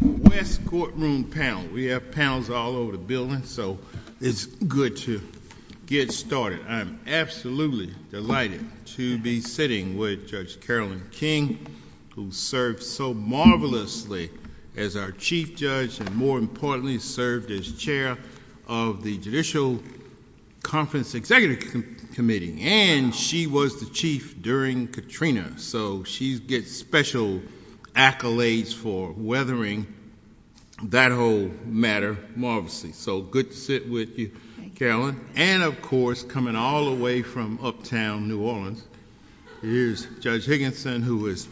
West courtroom panel. We have panels all over the building so it's good to get started. I'm absolutely delighted to be sitting with Judge Carolyn King who served so marvelously as our chief judge and more importantly served as chair of the Judicial Conference Executive Committee and she was the chief during Katrina so she gets special accolades for weathering that whole matter marvelously. So good to sit with you Carolyn and of course coming all the way from uptown New Orleans here's Judge Higginson who is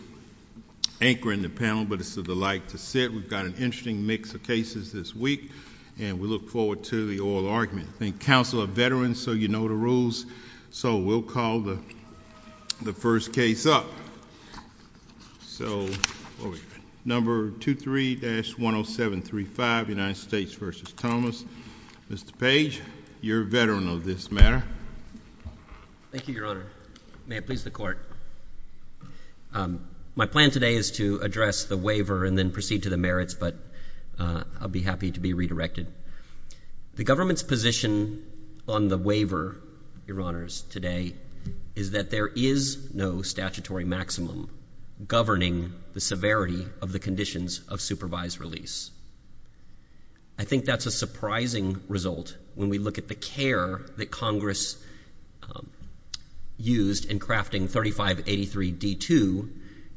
anchoring the panel but it's a delight to sit. We've got an interesting mix of cases this week and we look forward to the oral argument. I think counsel are veterans so you know the rules so we'll call the the first case up. So number 23-10735 United States v. Thomas. Mr. Page you're a veteran of this matter. Thank you Your Honor. May it please the court. My plan today is to address the waiver and then proceed to the merits but I'll be happy to be redirected. The government's position on the waiver, Your Honors, today is that there is no statutory maximum governing the severity of the conditions of supervised release. I think that's a surprising result when we look at the care that Congress used in crafting 3583 D2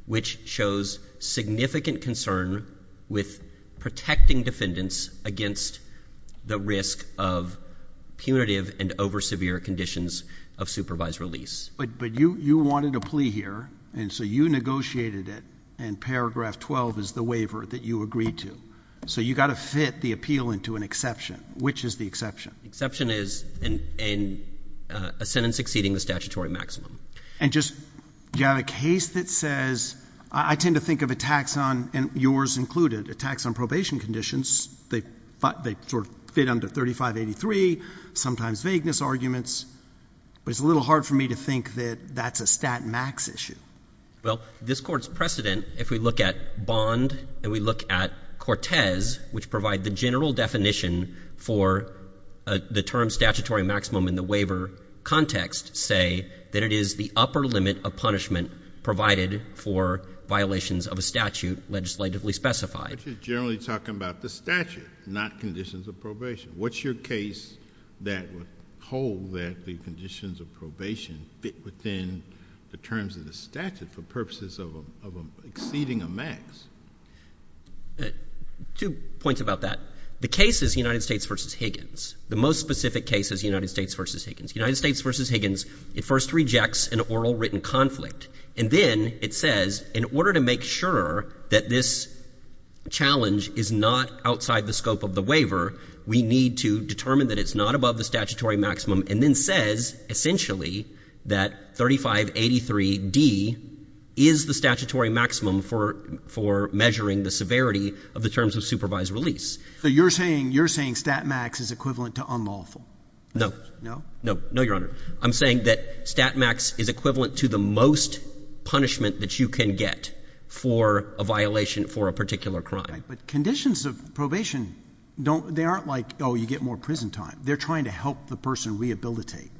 which shows significant concern with protecting defendants against the risk of punitive and over severe conditions of supervised release. But you you wanted a plea here and so you negotiated it and paragraph 12 is the waiver that you agreed to. So you got to fit the appeal into an exception. Which is the exception? The exception is in a sentence exceeding the statutory maximum. And just you have a case that says I tend to think of attacks on and yours included. Attacks on probation conditions. They sort of fit under 3583. Sometimes vagueness arguments. But it's a little hard for me to think that that's a stat max issue. Well this court's precedent if we look at Bond and we look at Cortez which provide the general definition for the term statutory maximum in the waiver context say that it is the upper limit of punishment provided for violations of a statute legislatively specified. Which is generally talking about the statute not conditions of probation. What's your case that would hold that the conditions of probation fit within the terms of the statute for purposes of exceeding a max? Two points about that. The case is United States versus Higgins. The most specific case is United States versus Higgins. United States versus Higgins it first rejects an oral written conflict and then it says in order to make sure that this challenge is not outside the scope of the waiver we need to determine that it's not above the statutory maximum and then says essentially that 3583 D is the statutory maximum for for measuring the severity of the terms of supervised release. So you're saying you're saying stat max is equivalent to unlawful? No. No your honor. I'm saying that stat max is equivalent to the most punishment that you can get for a violation for a particular crime. But conditions of probation don't they aren't like oh you get more prison time. They're trying to help the person rehabilitate.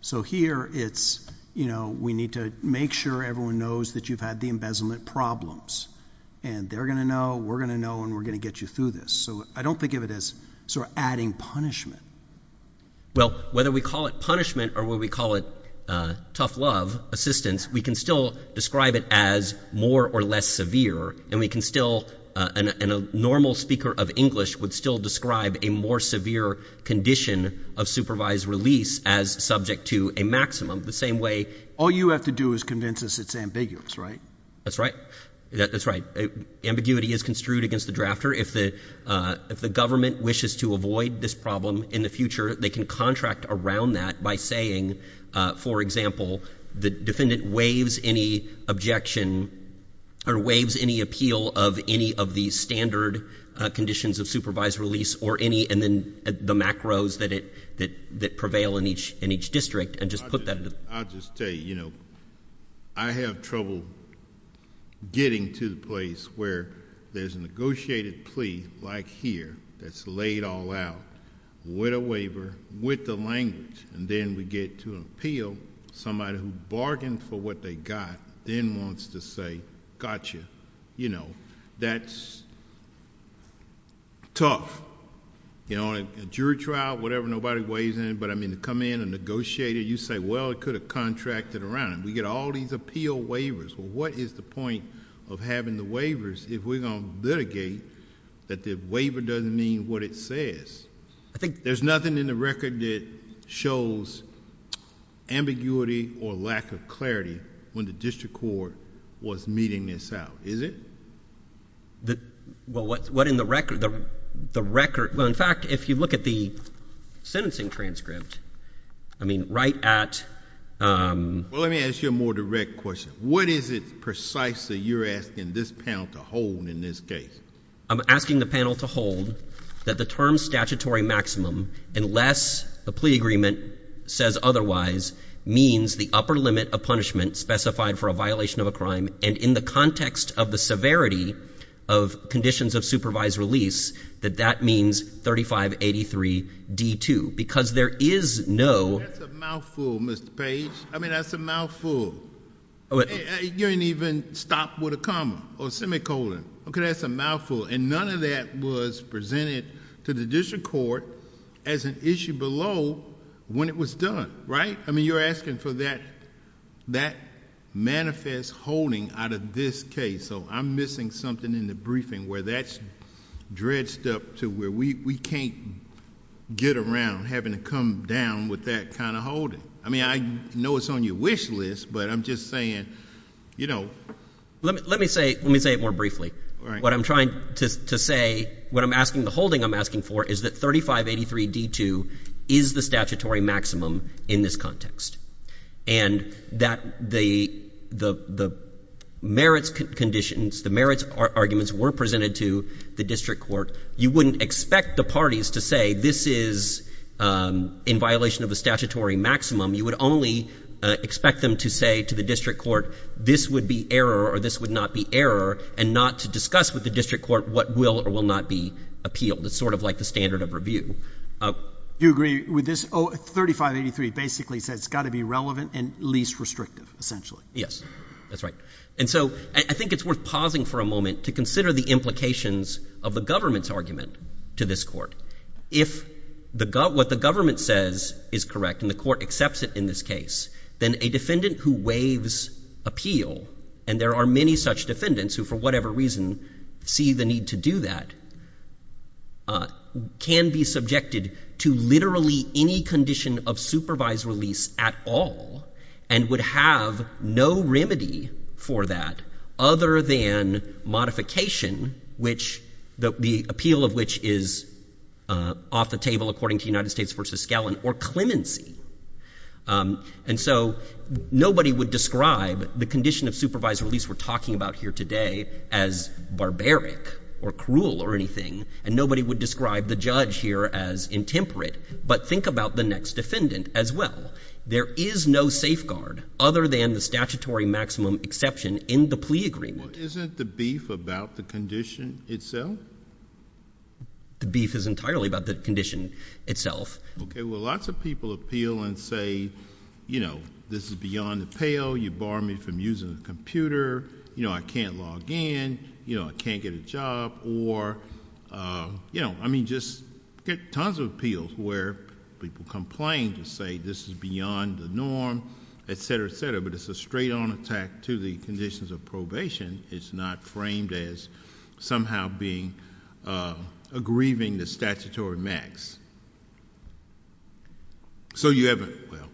So here it's you know we need to make sure everyone knows that you've had the embezzlement problems and they're gonna know we're gonna know and we're gonna get you through this. So I don't think of this sort of adding punishment. Well whether we call it punishment or what we call it tough love assistance we can still describe it as more or less severe and we can still and a normal speaker of English would still describe a more severe condition of supervised release as subject to a maximum the same way. All you have to do is convince us it's ambiguous right? That's right that's right. Ambiguity is construed against the drafter. If the if the government wishes to avoid this problem in the future they can contract around that by saying for example the defendant waives any objection or waives any appeal of any of these standard conditions of supervised release or any and then the macros that it that that prevail in each in each district and just put that. I'll give you a place where there's a negotiated plea like here that's laid all out with a waiver with the language and then we get to appeal somebody who bargained for what they got then wants to say gotcha you know that's tough. You know a jury trial whatever nobody weighs in but I mean to come in and negotiate it you say well it could have contracted around it. We get all these appeal waivers. Well what is the point of having the waivers if we're gonna litigate that the waiver doesn't mean what it says. I think there's nothing in the record that shows ambiguity or lack of clarity when the district court was meeting this out is it? That well what what in the record the record well in fact if you look at the sentencing transcript I mean right at. Well let me ask you a more direct question. What is it precisely you're asking this panel to hold in this case? I'm asking the panel to hold that the term statutory maximum unless the plea agreement says otherwise means the upper limit of punishment specified for a violation of a crime and in the context of the severity of conditions of supervised release that that means 3583 D2 because there is no... That's a mouthful Mr. Page. I mean that's a mouthful. You didn't even stop with a comma or semicolon. Okay that's a mouthful and none of that was presented to the district court as an issue below when it was done right? I mean you're asking for that that manifest holding out of this case so I'm missing something in the briefing where that's dredged up to where we can't get around having to come down with that kind of holding. I mean I know it's on your wish list but I'm just saying you know. Let me say let me say it more briefly. What I'm trying to say what I'm asking the holding I'm asking for is that 3583 D2 is the statutory maximum in this context and that the merits conditions the merits arguments were presented to the district court you wouldn't expect the parties to say this is in violation of the statutory maximum you would only expect them to say to the district court this would be error or this would not be error and not to discuss with the district court what will or will not be appealed. It's sort of like the standard of review. Do you agree with this? Oh 3583 basically says it's got to be relevant and least restrictive essentially. Yes that's right and so I think it's worth pausing for a moment to consider the implications of the government's argument to this court. If the gut what the government says is correct and the court accepts it in this case then a defendant who waives appeal and there are many such defendants who for whatever reason see the need to do that can be subjected to literally any condition of supervised release at all and would have no remedy for that other than modification which the appeal of which is off the table according to United States v. Scallon or clemency and so nobody would describe the condition of supervised release we're talking about here today as barbaric or cruel or anything and nobody would describe the judge here as intemperate but think about the next defendant as well. There is no safeguard other than the statutory maximum exception in the plea agreement. Isn't the beef about the condition itself? The beef is entirely about the condition itself. Okay well lots of people appeal and say you know this is beyond the pale you bar me from using a computer you know I can't log in you know I can't get a job or you know I mean just get tons of appeals where people complain to say this is beyond the norm etc etc but it's a straight-on attack to the conditions of probation it's not framed as somehow being a grieving the statutory max. So you have a well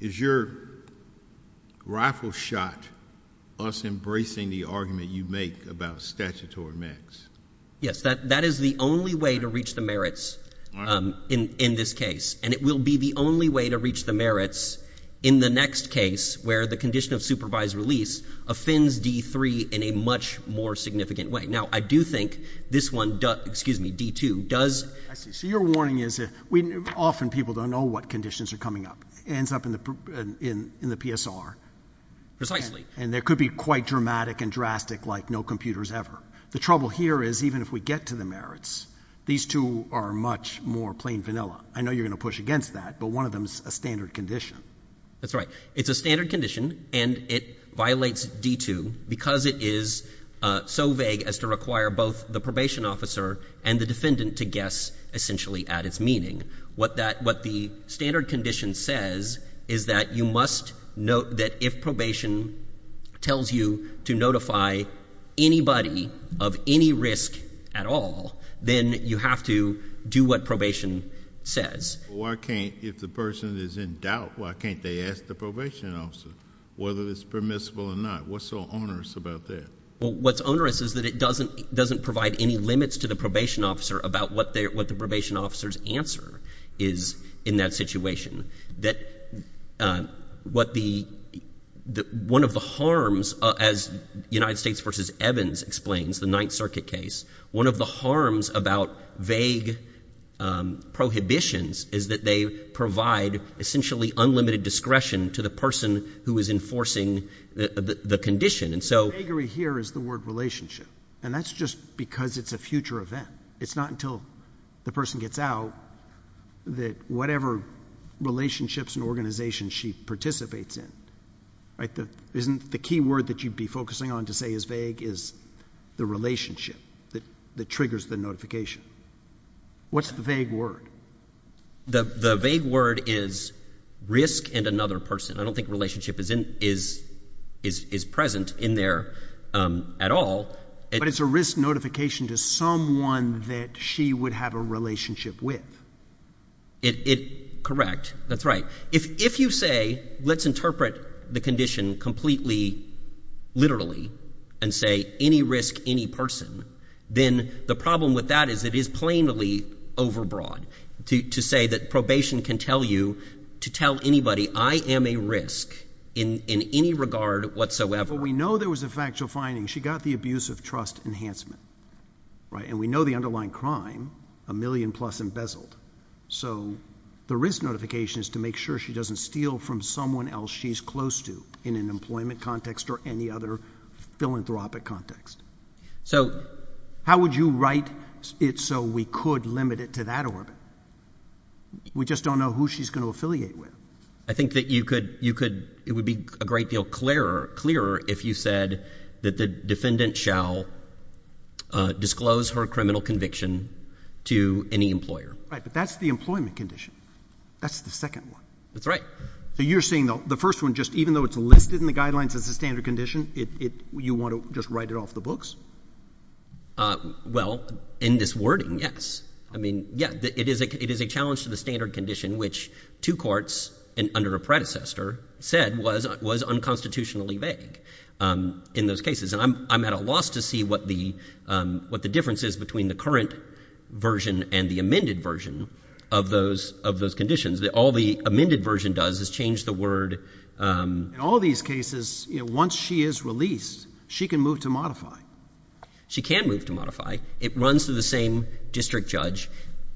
is your rifle shot us embracing the argument you make about statutory max? Yes that that is the only way to reach the merits in in this case and it will be the only way to reach the merits in the next case where the condition of supervised release offends d3 in a much more significant way. Now I do think this one does excuse me d2 does. I see so your warning is it we often people don't know what conditions are coming up ends up in the in in the PSR precisely and there could be quite dramatic and drastic like no computers ever. The trouble here is even if we get to the merits these two are much more vanilla. I know you're gonna push against that but one of them's a standard condition. That's right it's a standard condition and it violates d2 because it is so vague as to require both the probation officer and the defendant to guess essentially at its meaning. What that what the standard condition says is that you must note that if probation tells you to notify anybody of any risk at all then you have to do what probation says. Why can't if the person is in doubt why can't they ask the probation officer whether it's permissible or not what's so onerous about that? What's onerous is that it doesn't doesn't provide any limits to the probation officer about what they what the probation officers answer is in that situation. That what the the one of the harms as United States versus Evans explains the Ninth Circuit case one of the harms about vague prohibitions is that they provide essentially unlimited discretion to the person who is enforcing the condition and so here is the word relationship and that's just because it's a future event it's not until the person gets out that whatever relationships and organizations she participates in right that isn't the key word that you'd be focusing on to say is vague is the relationship that the triggers the notification. What's the vague word? The vague word is risk and another person. I don't think relationship is in is is present in there at all. But it's a risk notification to someone that she would have a relationship with. It correct that's right if you say let's interpret the condition completely literally and say any risk any person then the problem with that is it is plainly overbroad to to say that probation can tell you to tell anybody I am a risk in in any regard whatsoever. We know there was a factual finding she got the abuse of trust enhancement right and we know the underlying crime a million-plus embezzled so the risk notification is to make sure she doesn't steal from someone else she's close to in an employment context or any other philanthropic context. So how would you write it so we could limit it to that orbit? We just don't know who she's going to affiliate with. I think that you could you could it would be a great deal clearer clearer if you said that the defendant shall disclose her criminal conviction to any employer. But that's the employment condition. That's the second one. That's right. So you're saying the first one just even though it's listed in the guidelines as a standard condition it you want to just write it off the books? Well in this wording yes. I mean yeah it is a it is a challenge to the standard condition which two courts and under a predecessor said was was unconstitutionally vague in those cases and I'm at a loss to see what the what the difference is between the current version and the amended version of those of those conditions that all the amended version does is change the word. In all these cases you know once she is released she can move to modify. She can move to modify. It runs through the same district judge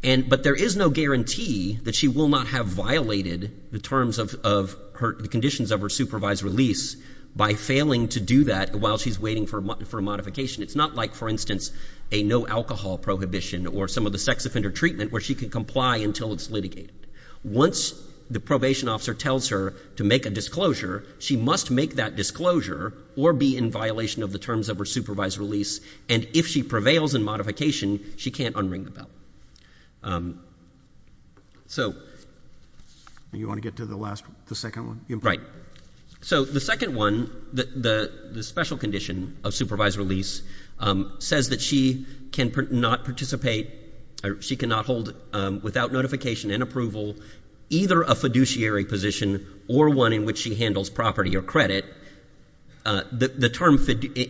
and but there is no guarantee that she will not have violated the terms of her conditions of her supervised release by failing to do that while she's waiting for a modification. It's not like for instance a no alcohol prohibition or some of the sex offender treatment where she can comply until it's litigated. Once the probation officer tells her to make a disclosure she must make that disclosure or be in violation of the terms of her supervised release and if she prevails in modification she can't unring the bell. So you want to get to the last the second one? Right. So the second one the special condition of supervised release says that she cannot participate or she cannot hold without notification and approval either a fiduciary position or one in which she handles property or credit. The term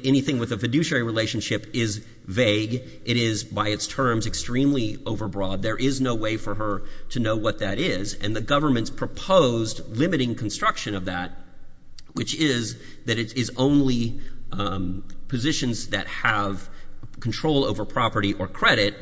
anything with a fiduciary relationship is vague. It is by its terms extremely overbroad. There is no way for her to know what that is and the government's proposed limiting construction of that which is that it is only positions that have control over property or credit.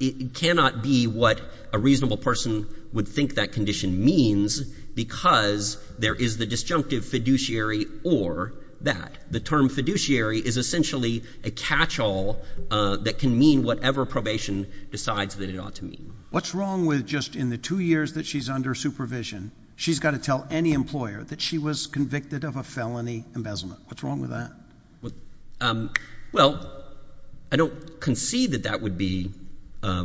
It cannot be what a reasonable person would think that condition means because there is the disjunctive fiduciary or that. The term fiduciary is essentially a catch-all that can mean whatever probation decides that it ought to mean. What's wrong with just in the two years that she's under supervision she's got to tell any employer that she was convicted of a felony embezzlement? What's wrong with that? Well I don't concede that that would be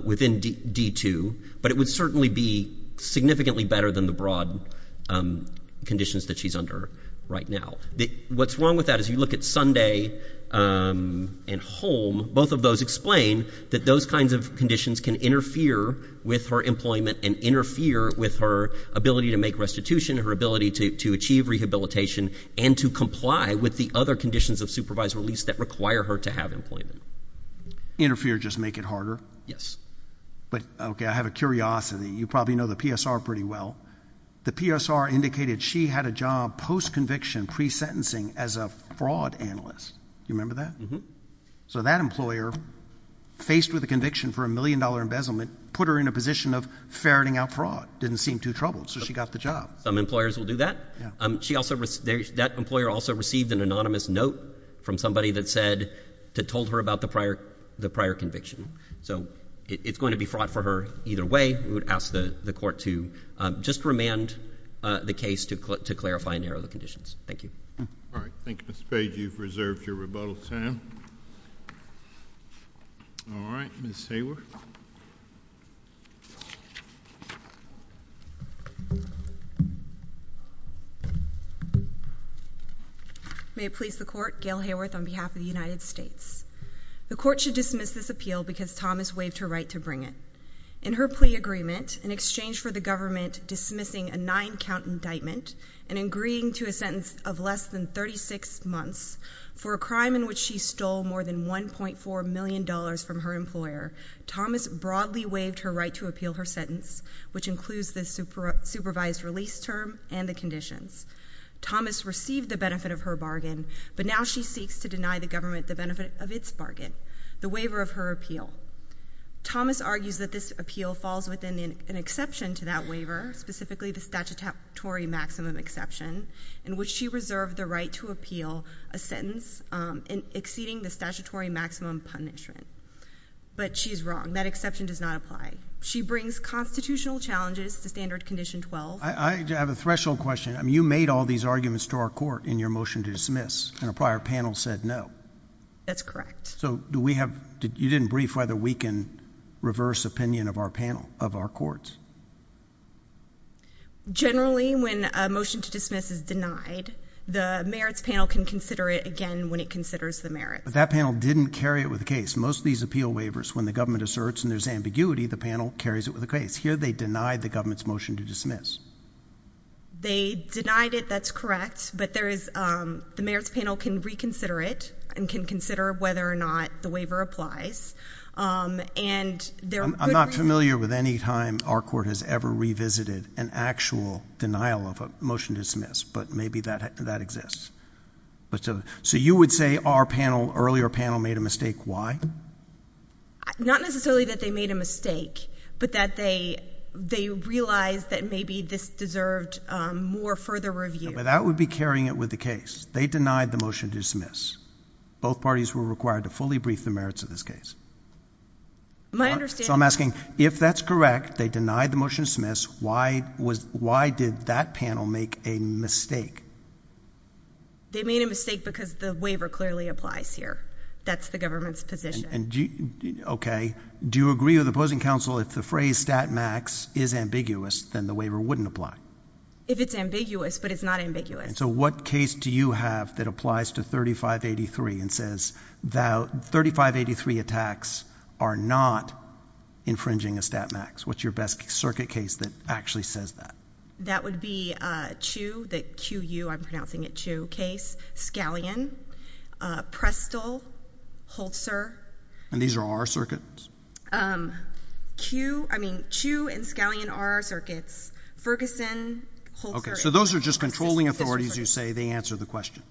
within D2 but it would certainly be significantly better than the broad conditions that she's under right now. What's wrong with that as you look at Sunday and Holm both of those explain that those kinds of conditions can interfere with her employment and interfere with her ability to make restitution, her ability to achieve rehabilitation and to comply with the other conditions of supervised release that require her to have employment. Interfere just make it harder? Yes. But okay I have a curiosity. You probably know the PSR pretty well. The PSR indicated she had a job post-conviction pre-sentencing as a fraud analyst. You remember that? Mm-hmm. So that employer faced with a conviction for a million dollar embezzlement put her in a position of ferreting out fraud. Didn't seem too troubled so she got the job. Some employers will do that. She also received, that employer also received an anonymous note from somebody that said, that told her about the prior conviction. So it's going to be fraught for her either way. We would ask the the court to just remand the case to clarify and narrow the conditions. Thank you. All right, Ms. Hayworth. May it please the court, Gail Hayworth on behalf of the United States. The court should dismiss this appeal because Thomas waived her right to bring it. In her plea agreement, in exchange for the government dismissing a nine count indictment and agreeing to a sentence of less than 36 months for a crime in which she stole more than 1.4 million dollars from her employer, Thomas broadly waived her right to appeal her sentence, which includes the supervised release term and the conditions. Thomas received the benefit of her bargain, but now she seeks to deny the government the benefit of its bargain, the waiver of her appeal. Thomas argues that this appeal falls within an exception to that waiver, specifically the statutory maximum exception, in which she reserved the right to appeal a sentence exceeding the statutory maximum punishment. But she's wrong. That exception does not apply. She brings constitutional challenges to standard condition 12. I have a threshold question. I mean, you made all these arguments to our court in your motion to dismiss, and a prior panel said no. That's correct. So do we have, you didn't brief whether we can reverse opinion of our panel, of our courts. Generally, when a motion to dismiss is denied, the merits panel can consider it again when it considers the merits. But that panel didn't carry it with the case. Most of these appeal waivers, when the government asserts and there's ambiguity, the panel carries it with the case. Here they denied the government's motion to dismiss. They denied it, that's correct, but there is, the merits panel can reconsider it and can consider whether or not the waiver applies. I'm not familiar with any time our court has ever revisited an actual denial of a motion to dismiss, but maybe that exists. So you would say our panel, earlier panel, made a mistake. Why? Not necessarily that they made a mistake, but that they realized that maybe this deserved more further review. But that would be carrying it with the case. They denied the motion to dismiss. Both parties were required to fully brief the merits of this case. My motion to dismiss, why was, why did that panel make a mistake? They made a mistake because the waiver clearly applies here. That's the government's position. And do you, okay, do you agree with the opposing counsel if the phrase stat max is ambiguous, then the waiver wouldn't apply? If it's ambiguous, but it's not ambiguous. So what case do you have that applies to 3583 and says that 3583 attacks are not infringing a stat max? What's your best circuit case that actually says that? That would be Chiu, that Q-U, I'm pronouncing it Chiu, case, Scallion, Prestle, Holzer. And these are our circuits? Q, I mean, Chiu and Scallion are our circuits. Ferguson, Holzer. Okay, so those are just controlling authorities you say, they answer the question?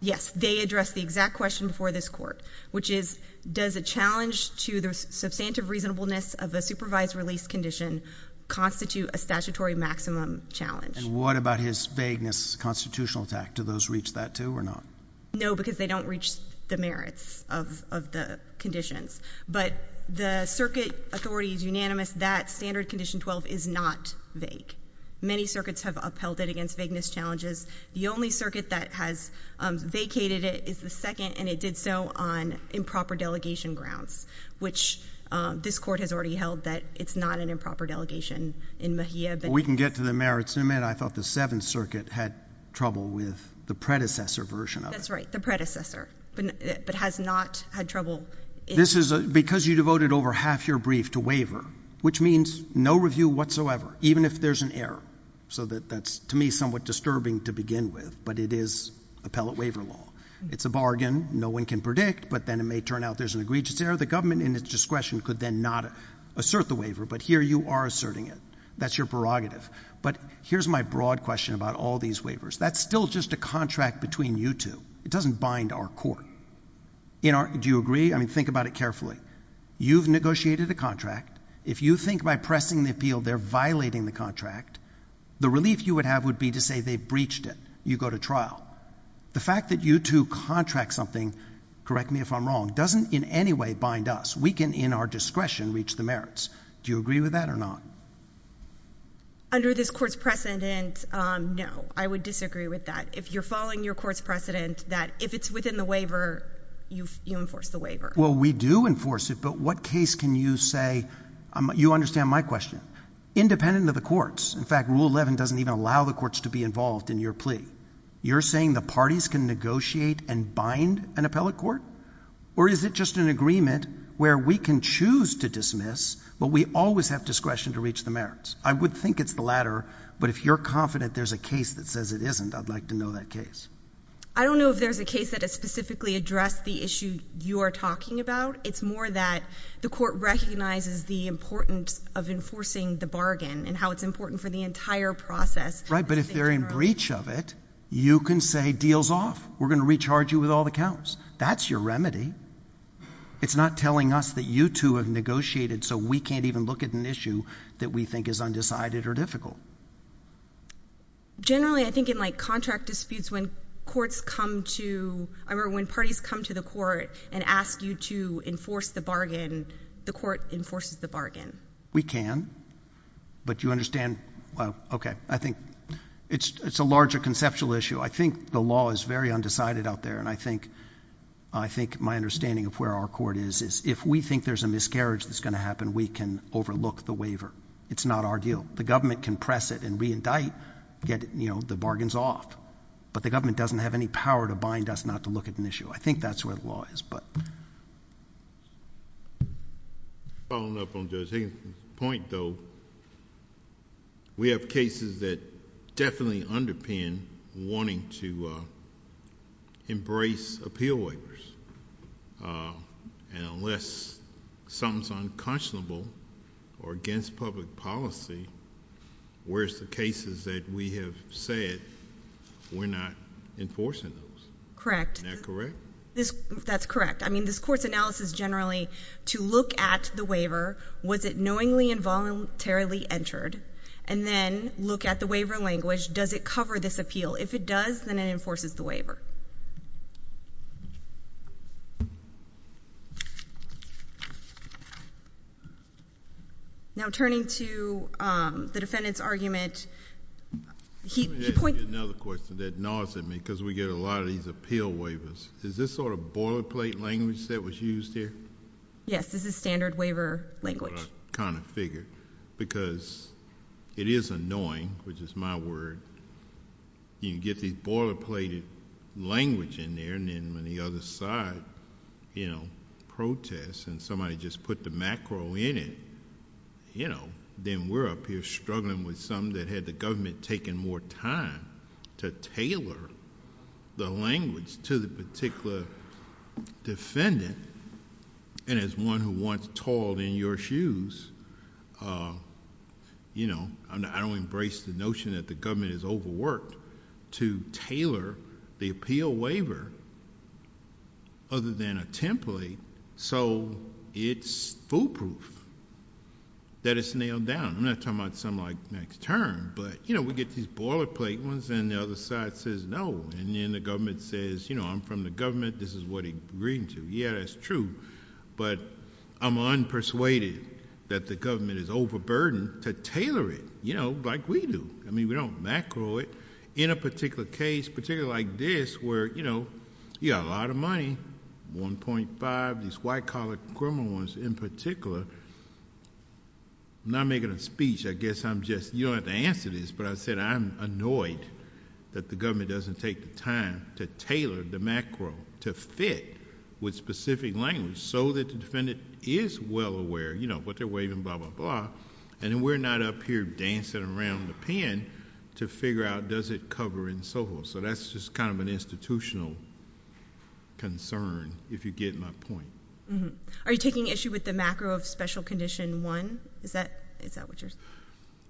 Yes, they address the exact question before this court, which is, does a challenge to the substantive reasonableness of the supervised release condition constitute a statutory maximum challenge? And what about his vagueness constitutional attack? Do those reach that too or not? No, because they don't reach the merits of the conditions. But the circuit authority is unanimous that standard condition 12 is not vague. Many circuits have upheld it against vagueness challenges. The only circuit that has vacated it is the second, and it did so on improper delegation grounds, which this court has already held that it's not an improper delegation in Mejia. But we can get to the merits in a minute. I thought the Seventh Circuit had trouble with the predecessor version of it. That's right, the predecessor, but has not had trouble. This is because you devoted over half your brief to waiver, which means no review whatsoever, even if there's an error. So that's, to me, somewhat disturbing to begin with, but it is appellate waiver law. It's a bargain. No one can predict, but then it may turn out there's an egregious error. The government, in its discretion, could then not assert the waiver, but here you are asserting it. That's your prerogative. But here's my broad question about all these waivers. That's still just a contract between you two. It doesn't bind our court. Do you agree? I mean, think about it carefully. You've negotiated a contract. If you think by pressing the appeal they're violating the contract, the relief you would have would be to say they breached it. You go to trial. The fact that you two contract something, correct me if I'm wrong, doesn't in any way bind us. We can, in our discretion, reach the merits. Do you agree with that or not? Under this Court's precedent, no. I would disagree with that. If you're following your Court's precedent, that if it's within the waiver, you enforce the waiver. Well, we do enforce it, but what case can you say, you understand my question, independent of the courts? In fact, Rule 11 doesn't even allow the courts to be involved in your plea. You're saying the parties can negotiate and bind an appellate court? Or is it just an agreement where we can choose to dismiss, but we always have discretion to reach the merits? I would think it's the latter, but if you're confident there's a case that says it isn't, I'd like to know that case. I don't know if there's a case that has specifically addressed the issue you are talking about. It's more that the Court recognizes the importance of enforcing the bargain and how it's important for the entire process. Right, but if they're in breach of it, you can say, deals off. We're going to recharge you with all the counts. That's your remedy. It's not telling us that you two have negotiated, so we can't even look at an issue that we think is undecided or difficult. Generally, I think in like contract disputes, when courts come to, or when parties come to the court and ask you to enforce the bargain, the court enforces the bargain. We can, but you understand, well, okay. I think it's a larger conceptual issue. I think the law is very undecided out there, and I think my understanding of where our court is, is if we think there's a miscarriage that's going to happen, we can overlook the waiver. It's not our deal. The government can press it and re-indict, get the bargains off, but the government doesn't have any power to bind us not to look at an issue. I think that's where the law is, but... Following up on Judge Higgins' point, though, we have cases that definitely underpin wanting to embrace appeal waivers. Unless something's unconscionable or against public policy, where's the cases that we have said we're not enforcing those? Correct. Isn't that correct? That's correct. I mean, this court's analysis generally, to look at the waiver, was it knowingly and voluntarily entered, and then look at the waiver language, does it cover this appeal? If it does, then it enforces the waiver. Now, turning to the defendant's argument... Let me ask you another question that gnaws at me, because we get a lot of these appeal waivers. Is this sort of boilerplate language that was used here? Yes, this is standard waiver language. That's what I kind of figured, because it is annoying, which is my word. You can get these boilerplate language in there, and then when the other side protests, and somebody just put the macro in it, then we're up here struggling with something that had the government taking more time to tailor the language to the particular defendant, and as one who once toiled in your shoes, I don't embrace the notion that the government has overworked to tailor the appeal waiver other than a template, so it's foolproof that it's nailed down. I'm not talking about something like next term, but we get these boilerplate ones, and the other side says no, and then the government says, I'm from the government, this is what he's agreeing to. Yeah, that's true, but I'm unpersuaded that the government is overburdened to tailor it like we do. I mean, we don't macro it. In a particular case, particularly like this, where you got a lot of money, 1.5, these white-collar criminal ones in particular... I'm not making a speech, I guess I'm just... you don't have to answer this, but I said I'm annoyed that the government doesn't take the time to tailor the macro to fit with specific language so that the defendant is well aware what they're waiving, blah, blah, blah, and then we're not up here dancing around the pen to figure out does it cover and so forth. That's just kind of an institutional concern, if you get my point. Are you taking issue with the macro of special condition one? Is that what you're...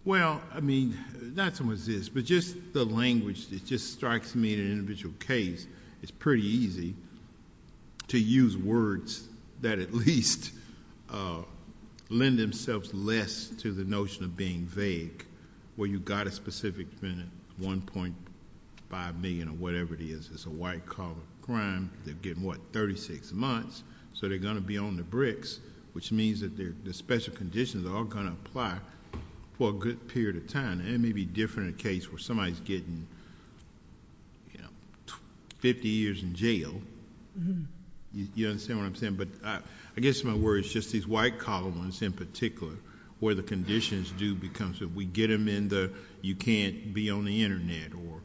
Well, I mean, not so much this, but just the language, it just strikes me in an individual case, it's pretty easy to use words that at least lend themselves less to the notion of being vague, where you got a specific defendant, 1.5 million or whatever it is, it's a white-collar crime, they're getting, what, 36 months, so they're going to be on the bricks, which means that the special conditions are all going to apply for a good period of time. It may be different in a case where somebody's getting 50 years in jail. You understand what I'm saying? I guess my word is just these white-collar ones in particular, where the conditions do become... we get them in the, you can't be on the internet, or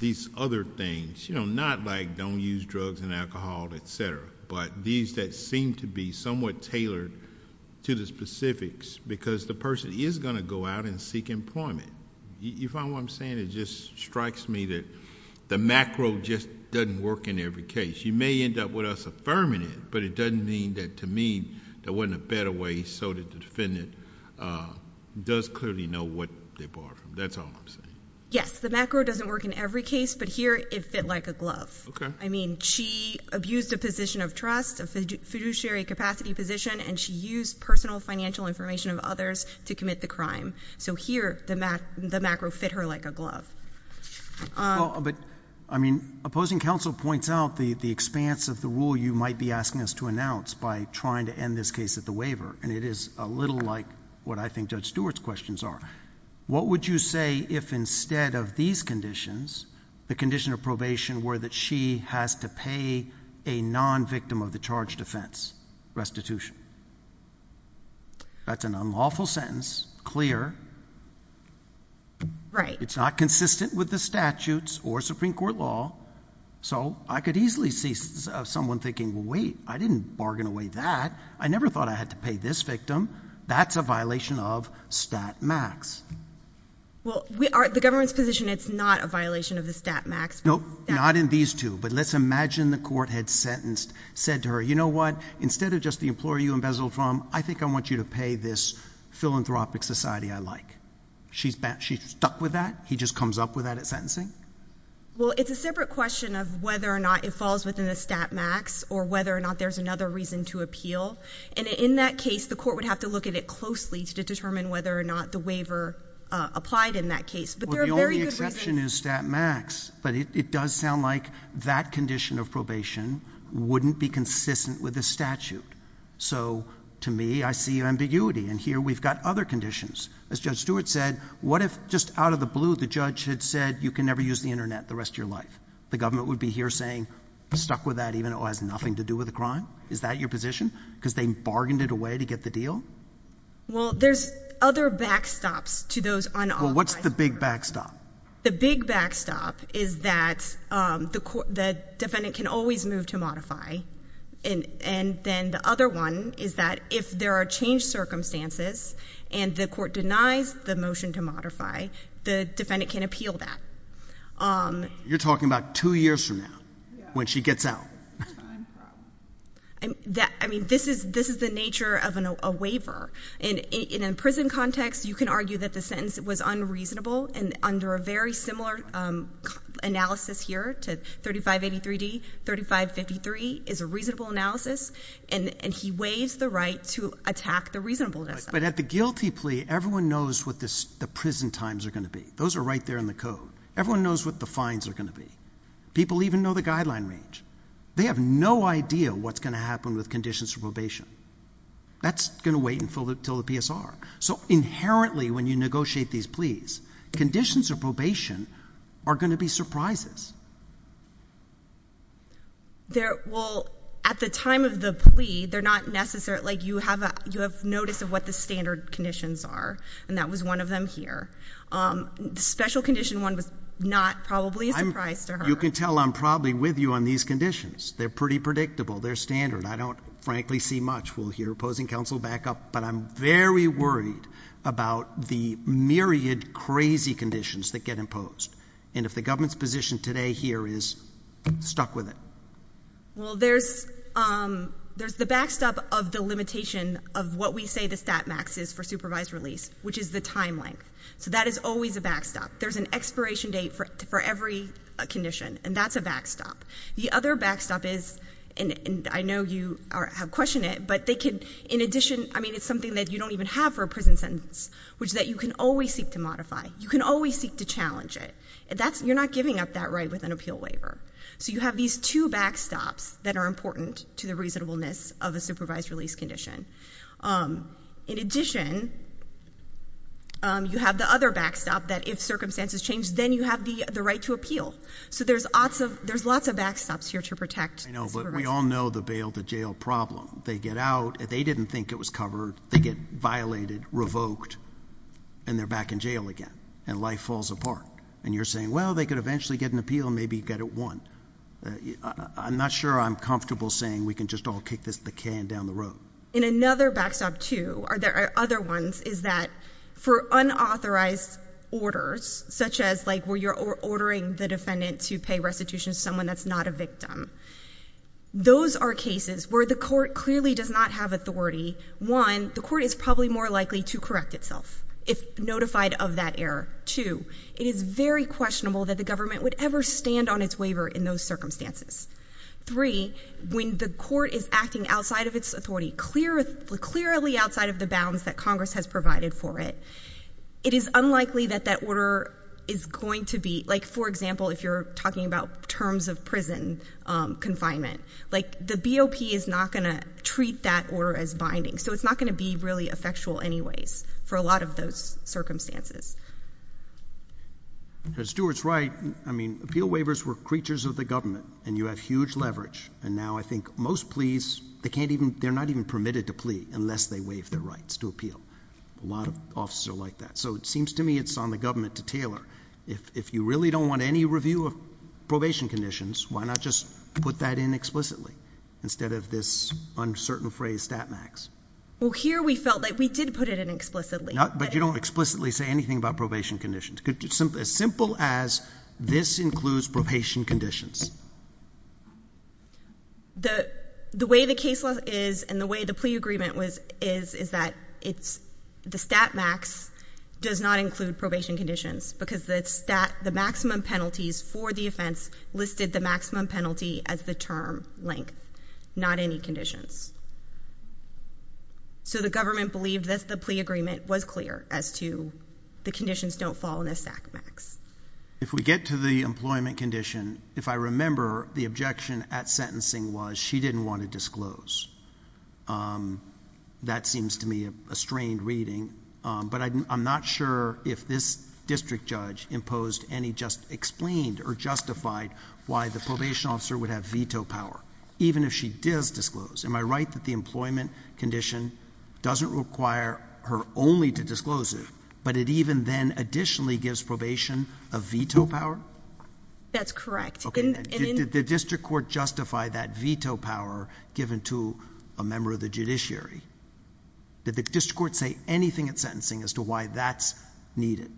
these other things. Not like we don't use drugs and alcohol, et cetera, but these that seem to be somewhat tailored to the specifics, because the person is going to go out and seek employment. You find what I'm saying? It just strikes me that the macro just doesn't work in every case. You may end up with us affirming it, but it doesn't mean that to me, there wasn't a better way so that the defendant does clearly know what they're barred from. That's all I'm saying. Yes. The macro doesn't work in every case, but here it fit like a glove. Okay. I mean, she abused a position of trust, a fiduciary capacity position, and she used personal financial information of others to commit the crime. So here, the macro fit her like a glove. But, I mean, opposing counsel points out the the expanse of the rule you might be asking us to announce by trying to end this case at the waiver, and it is a little like what I think Judge Stewart's questions are. What would you say if instead of these conditions, the condition of probation were that she has to pay a non-victim of the charge defense restitution? That's an unlawful sentence, clear. Right. It's not consistent with the statutes or Supreme Court law, so I could easily see someone thinking, wait, I didn't bargain away that. I never thought I had to pay this victim. That's a violation of stat max. Well, we are, the government's position, it's not a Nope, not in these two, but let's imagine the court had sentenced, said to her, you know what, instead of just the employer you embezzled from, I think I want you to pay this philanthropic society I like. She's stuck with that? He just comes up with that at sentencing? Well, it's a separate question of whether or not it falls within a stat max or whether or not there's another reason to appeal, and in that case, the court would have to look at it closely to determine whether or not the waiver applied in that case. But the only exception is stat max, but it does sound like that condition of probation wouldn't be consistent with the statute. So to me, I see ambiguity, and here we've got other conditions. As Judge Stewart said, what if just out of the blue, the judge had said you can never use the Internet the rest of your life? The government would be here saying stuck with that, even though it has nothing to do with the crime. Is that your position? Because they bargained it away to get the deal? Well, there's other backstops to those on. What's the big backstop? The big backstop is that the defendant can always move to modify, and then the other one is that if there are changed circumstances and the court denies the motion to modify, the defendant can appeal that. You're talking about two years from now, when she gets out. I mean, this is the nature of a waiver. In a prison context, you can argue that the sentence was unreasonable and under a very similar analysis here to 3583D, 3553 is a reasonable analysis, and he waives the right to attack the reasonableness. But at the guilty plea, everyone knows what the prison times are going to be. Those are right there in the code. Everyone knows what the fines are going to be. People even know the guideline range. They have no idea what's going to happen with conditions for probation. That's going to wait until the PSR. So are going to be surprises. There will, at the time of the plea, they're not necessarily like you have a you have notice of what the standard conditions are, and that was one of them here. Um, special condition one was not probably a surprise to her. You can tell I'm probably with you on these conditions. They're pretty predictable. They're standard. I don't frankly see much. We'll hear opposing counsel back up, but I'm very worried about the myriad crazy conditions that get imposed. And if the government's position today here is stuck with it, well, there's, um, there's the backstop of the limitation of what we say the stat max is for supervised release, which is the time length. So that is always a backstop. There's an expiration date for for every condition, and that's a backstop. The other backstop is, and I know you have question it, but they could. In addition, I mean, it's something that you don't even have for a prison sentence, which that you can always seek to modify. You can always seek to challenge it. That's you're not giving up that right with an appeal waiver. So you have these two backstops that are important to the reasonableness of a supervised release condition. Um, in addition, you have the other backstop that if circumstances change, then you have the right to appeal. So there's lots of there's lots of backstops here to protect. We all know the bail to jail problem. They get out. They didn't think it was covered. They get violated, revoked, and they're back in jail again, and life falls apart. And you're saying, Well, they could eventually get an appeal. Maybe you get it one. I'm not sure I'm comfortable saying we could just all kick this the can down the road in another backstop to are there other ones? Is that for unauthorized orders such as like where you're ordering the defendant to pay restitution to someone that's not a victim? Those are cases where the court clearly does not have authority. One, the court is probably more likely to correct itself if notified of that error. Two, it is very questionable that the government would ever stand on its waiver in those circumstances. Three, when the court is acting outside of its authority, clear, clearly outside of the bounds that Congress has provided for it, it is unlikely that that order is going to be like, for example, if you're talking about terms of prison confinement, like the BOP is not going to treat that order as binding, so it's not going to be really effectual anyways for a lot of those circumstances. As Stuart's right, I mean appeal waivers were creatures of the government, and you have huge leverage, and now I think most pleas, they can't even, they're not even permitted to plea unless they waive their rights to appeal. A lot of officers are like that, so it seems to me it's on the government to tailor. If you really don't want any review of probation conditions, why not just put that in explicitly instead of this uncertain phrase stat max? Well, here we felt like we did put it in explicitly. But you don't explicitly say anything about probation conditions. As simple as this includes probation conditions. The way the case law is, and the way the plea agreement is, is that it's the stat max does not include probation conditions, because the maximum penalties for the offense listed the maximum penalty as the term length, not any conditions. So the government believed that the plea agreement was clear as to the conditions don't fall in a stat max. If we get to the employment condition, if I remember the objection at sentencing was she didn't want to disclose. That seems to me a strained reading, but I'm not sure if this district judge imposed any just explained or justified why the probation officer would have veto power, even if she does disclose. Am I right that the employment condition doesn't require her only to disclose it, but it even then additionally gives probation a veto power? That's correct. Did the district court justify that veto power given to a district court say anything at sentencing as to why that's needed?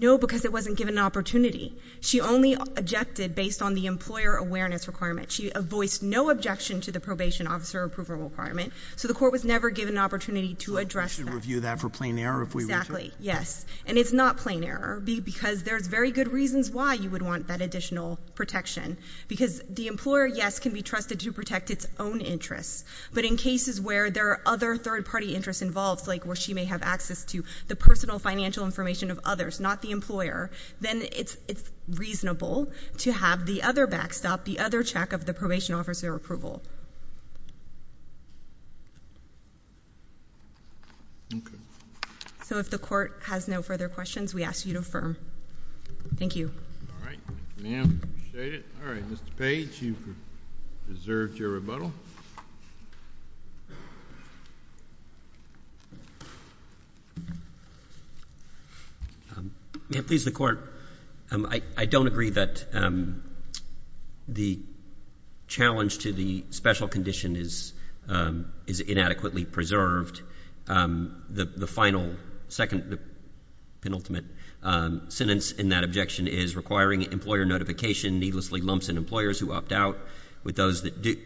No, because it wasn't given an opportunity. She only objected based on the employer awareness requirement. She voiced no objection to the probation officer approval requirement, so the court was never given an opportunity to address that. We should review that for plain error if we were to. Exactly, yes, and it's not plain error, because there's very good reasons why you would want that additional protection. Because the employer, yes, can be trusted to protect its own interests, but in cases where there are other third-party interests involved, like where she may have access to the personal financial information of others, not the employer, then it's reasonable to have the other backstop, the other check of the probation officer approval. So if the court has no further questions, we ask you to affirm. Thank you. All right, Ma'am, I appreciate it. All right, Mr. Page, you've deserved your rebuttal. Ma'am, please, the court, I don't agree that the challenge to the special sentence in that objection is requiring employer notification, needlessly lumps in employers who opt out with those that do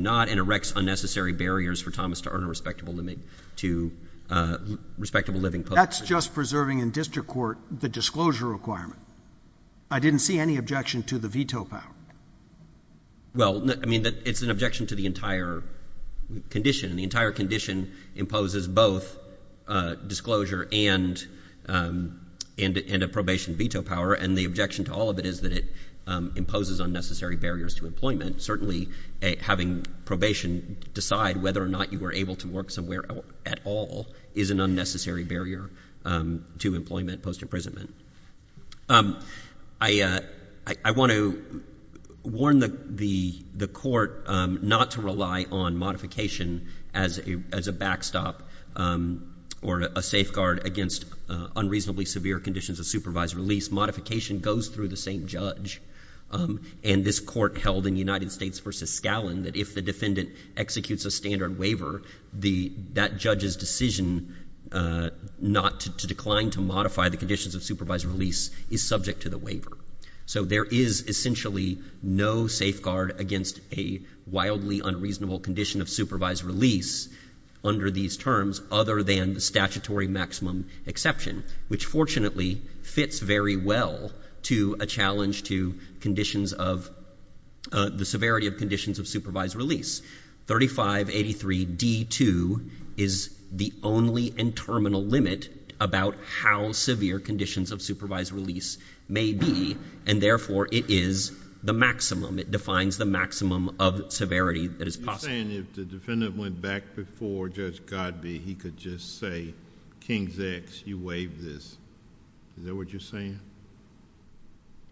not, and erects unnecessary barriers for Thomas to earn a respectable limit to respectable living That's just preserving in district court the disclosure requirement. I didn't see any objection to the veto power. Well, I mean, it's an objection to the entire condition, and the entire condition imposes both disclosure and a probation veto power, and the objection to all of it is that it imposes unnecessary barriers to employment. Certainly, having probation decide whether or not you were able to work somewhere at all is an unnecessary barrier to employment post-imprisonment. I want to warn the court not to rely on modification as a backstop or a safeguard against unreasonably severe conditions of supervised release. Modification goes through the same judge, and this court held in United States v. Scallon that if the defendant executes a standard waiver, that judge's decision not to decline to modify the conditions of supervised release is subject to the waiver. So there is essentially no safeguard against a wildly unreasonable condition of supervised release under these terms other than the statutory maximum exception, which fortunately fits very well to a challenge to conditions of the severity of conditions of supervised release. 3583d2 is the only and terminal limit about how severe conditions of supervised release may be, and therefore it is the maximum. It defines the maximum of severity that is possible. You're saying if the defendant went back before Judge Godbee, he could just say, King's X, you waived this. Is that what you're saying?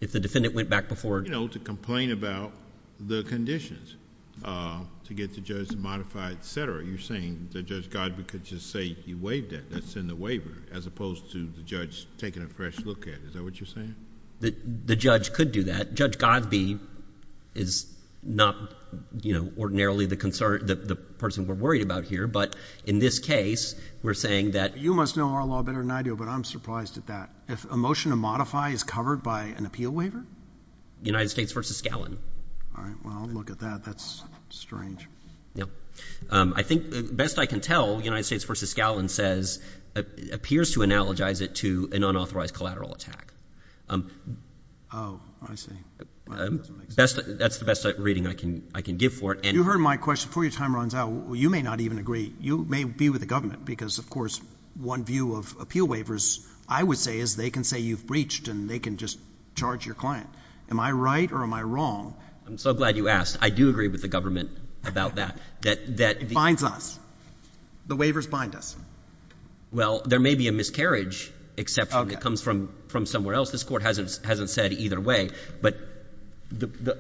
If the defendant went back before... You know, to complain about the conditions, to get the judge to modify, et cetera. You're saying that Judge Godbee could just say, you waived it, that's in the waiver, as opposed to the judge taking a fresh look at it. Is that what you're saying? The judge could do that. Judge Godbee is not, you know, ordinarily the person we're worried about here, but in this case, we're saying that... You must know our law better than I do, but I'm surprised at that. If a motion to modify is covered by an appeal waiver? United States v. Scallon. All right. Well, look at that. That's strange. Yeah. I think, best I can tell, United States v. Scallon says, appears to analogize it to an unauthorized collateral attack. Oh, I see. That's the best reading I can give for it, and... You heard my question. Before your time runs out, you may not even agree. You may be with the government, because, of course, one view of appeal waivers, I would say, is they can say you've breached, and they can just charge your client. Am I right, or am I wrong? I'm so glad you asked. I do agree with the government about that, that... It binds us. The waivers bind us. Well, there may be a miscarriage exception that comes from somewhere else. This Court hasn't said either way. But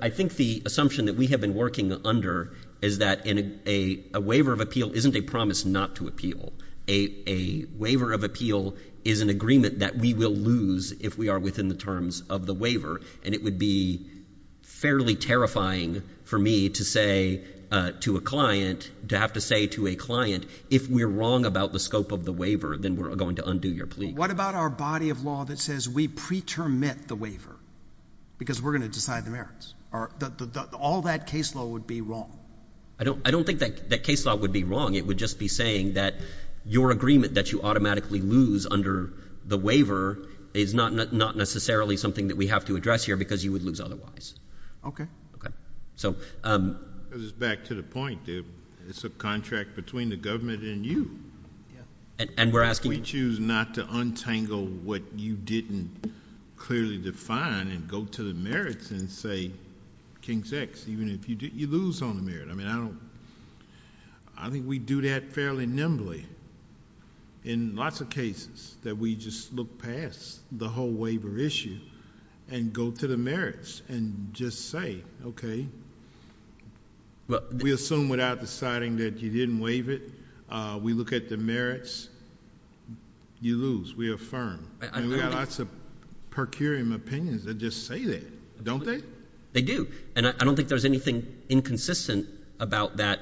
I think the assumption that we have been working under is that a waiver of appeal isn't a promise not to appeal. A waiver of appeal is an agreement that we will lose if we are within the terms of the waiver, and it would be fairly terrifying for me to have to say to a client, if we're wrong about the scope of the waiver, then we're going to undo your plea. What about our body of law that says we pretermit the waiver, because we're going to decide the merits? All that case law would be wrong. I don't think that case law would be wrong. It would just be saying that your agreement that you automatically lose under the waiver is not necessarily something that we have to address here, because you would lose otherwise. Okay. Because it's back to the point. It's a contract between the government and you. Yeah. And we're asking... If we choose not to untangle what you didn't clearly define and go to the merits and say, King's X, even if you lose on the merit. I mean, I don't... I think we do that fairly nimbly in lots of cases, that we just look past the whole waiver issue and go to the merits and just say, okay, we assume without deciding that you didn't waive it, we look at the merits, you lose. We affirm. And we have lots of per curiam opinions that just say that, don't they? They do. And I don't think there's anything inconsistent about that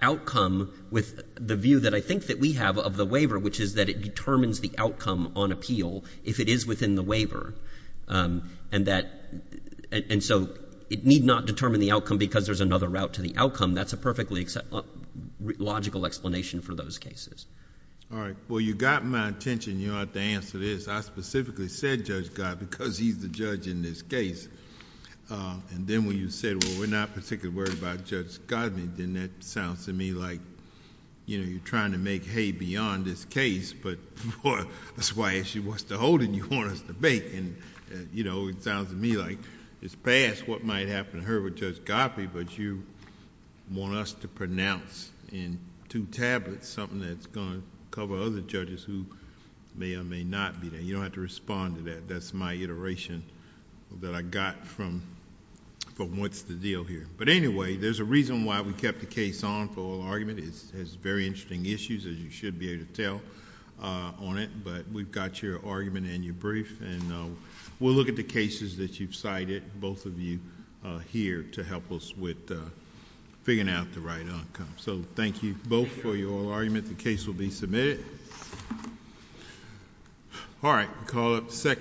outcome with the view that I think that we have of the waiver, which is that it determines the outcome on appeal if it is within the waiver. And so, it need not determine the outcome because there's another route to the outcome. That's a perfectly logical explanation for those cases. All right. Well, you got my attention. You don't have to answer this. I specifically said Judge Gott because he's the judge in this case. And then when you said, well, we're not particularly worried about Judge Gott, then that sounds to me like you're trying to make hay beyond this case, but that's why if she wants to hold it, you want us to bake. It sounds to me like it's past what might happen to her with Judge Gott, but you want us to pronounce in two tablets something that's going to cover other judges who may or may not be there. You don't have to respond to that. That's my iteration that I got from what's the deal here. But anyway, there's a reason why we kept the case on for oral argument. It has very interesting issues, as you should be able to tell on it, but we've got your argument and your brief, and we'll look at the cases that you've cited, both of you, here to help us with figuring out the right outcome. So, thank you both for your oral argument. The case will be All right. We'll call up the second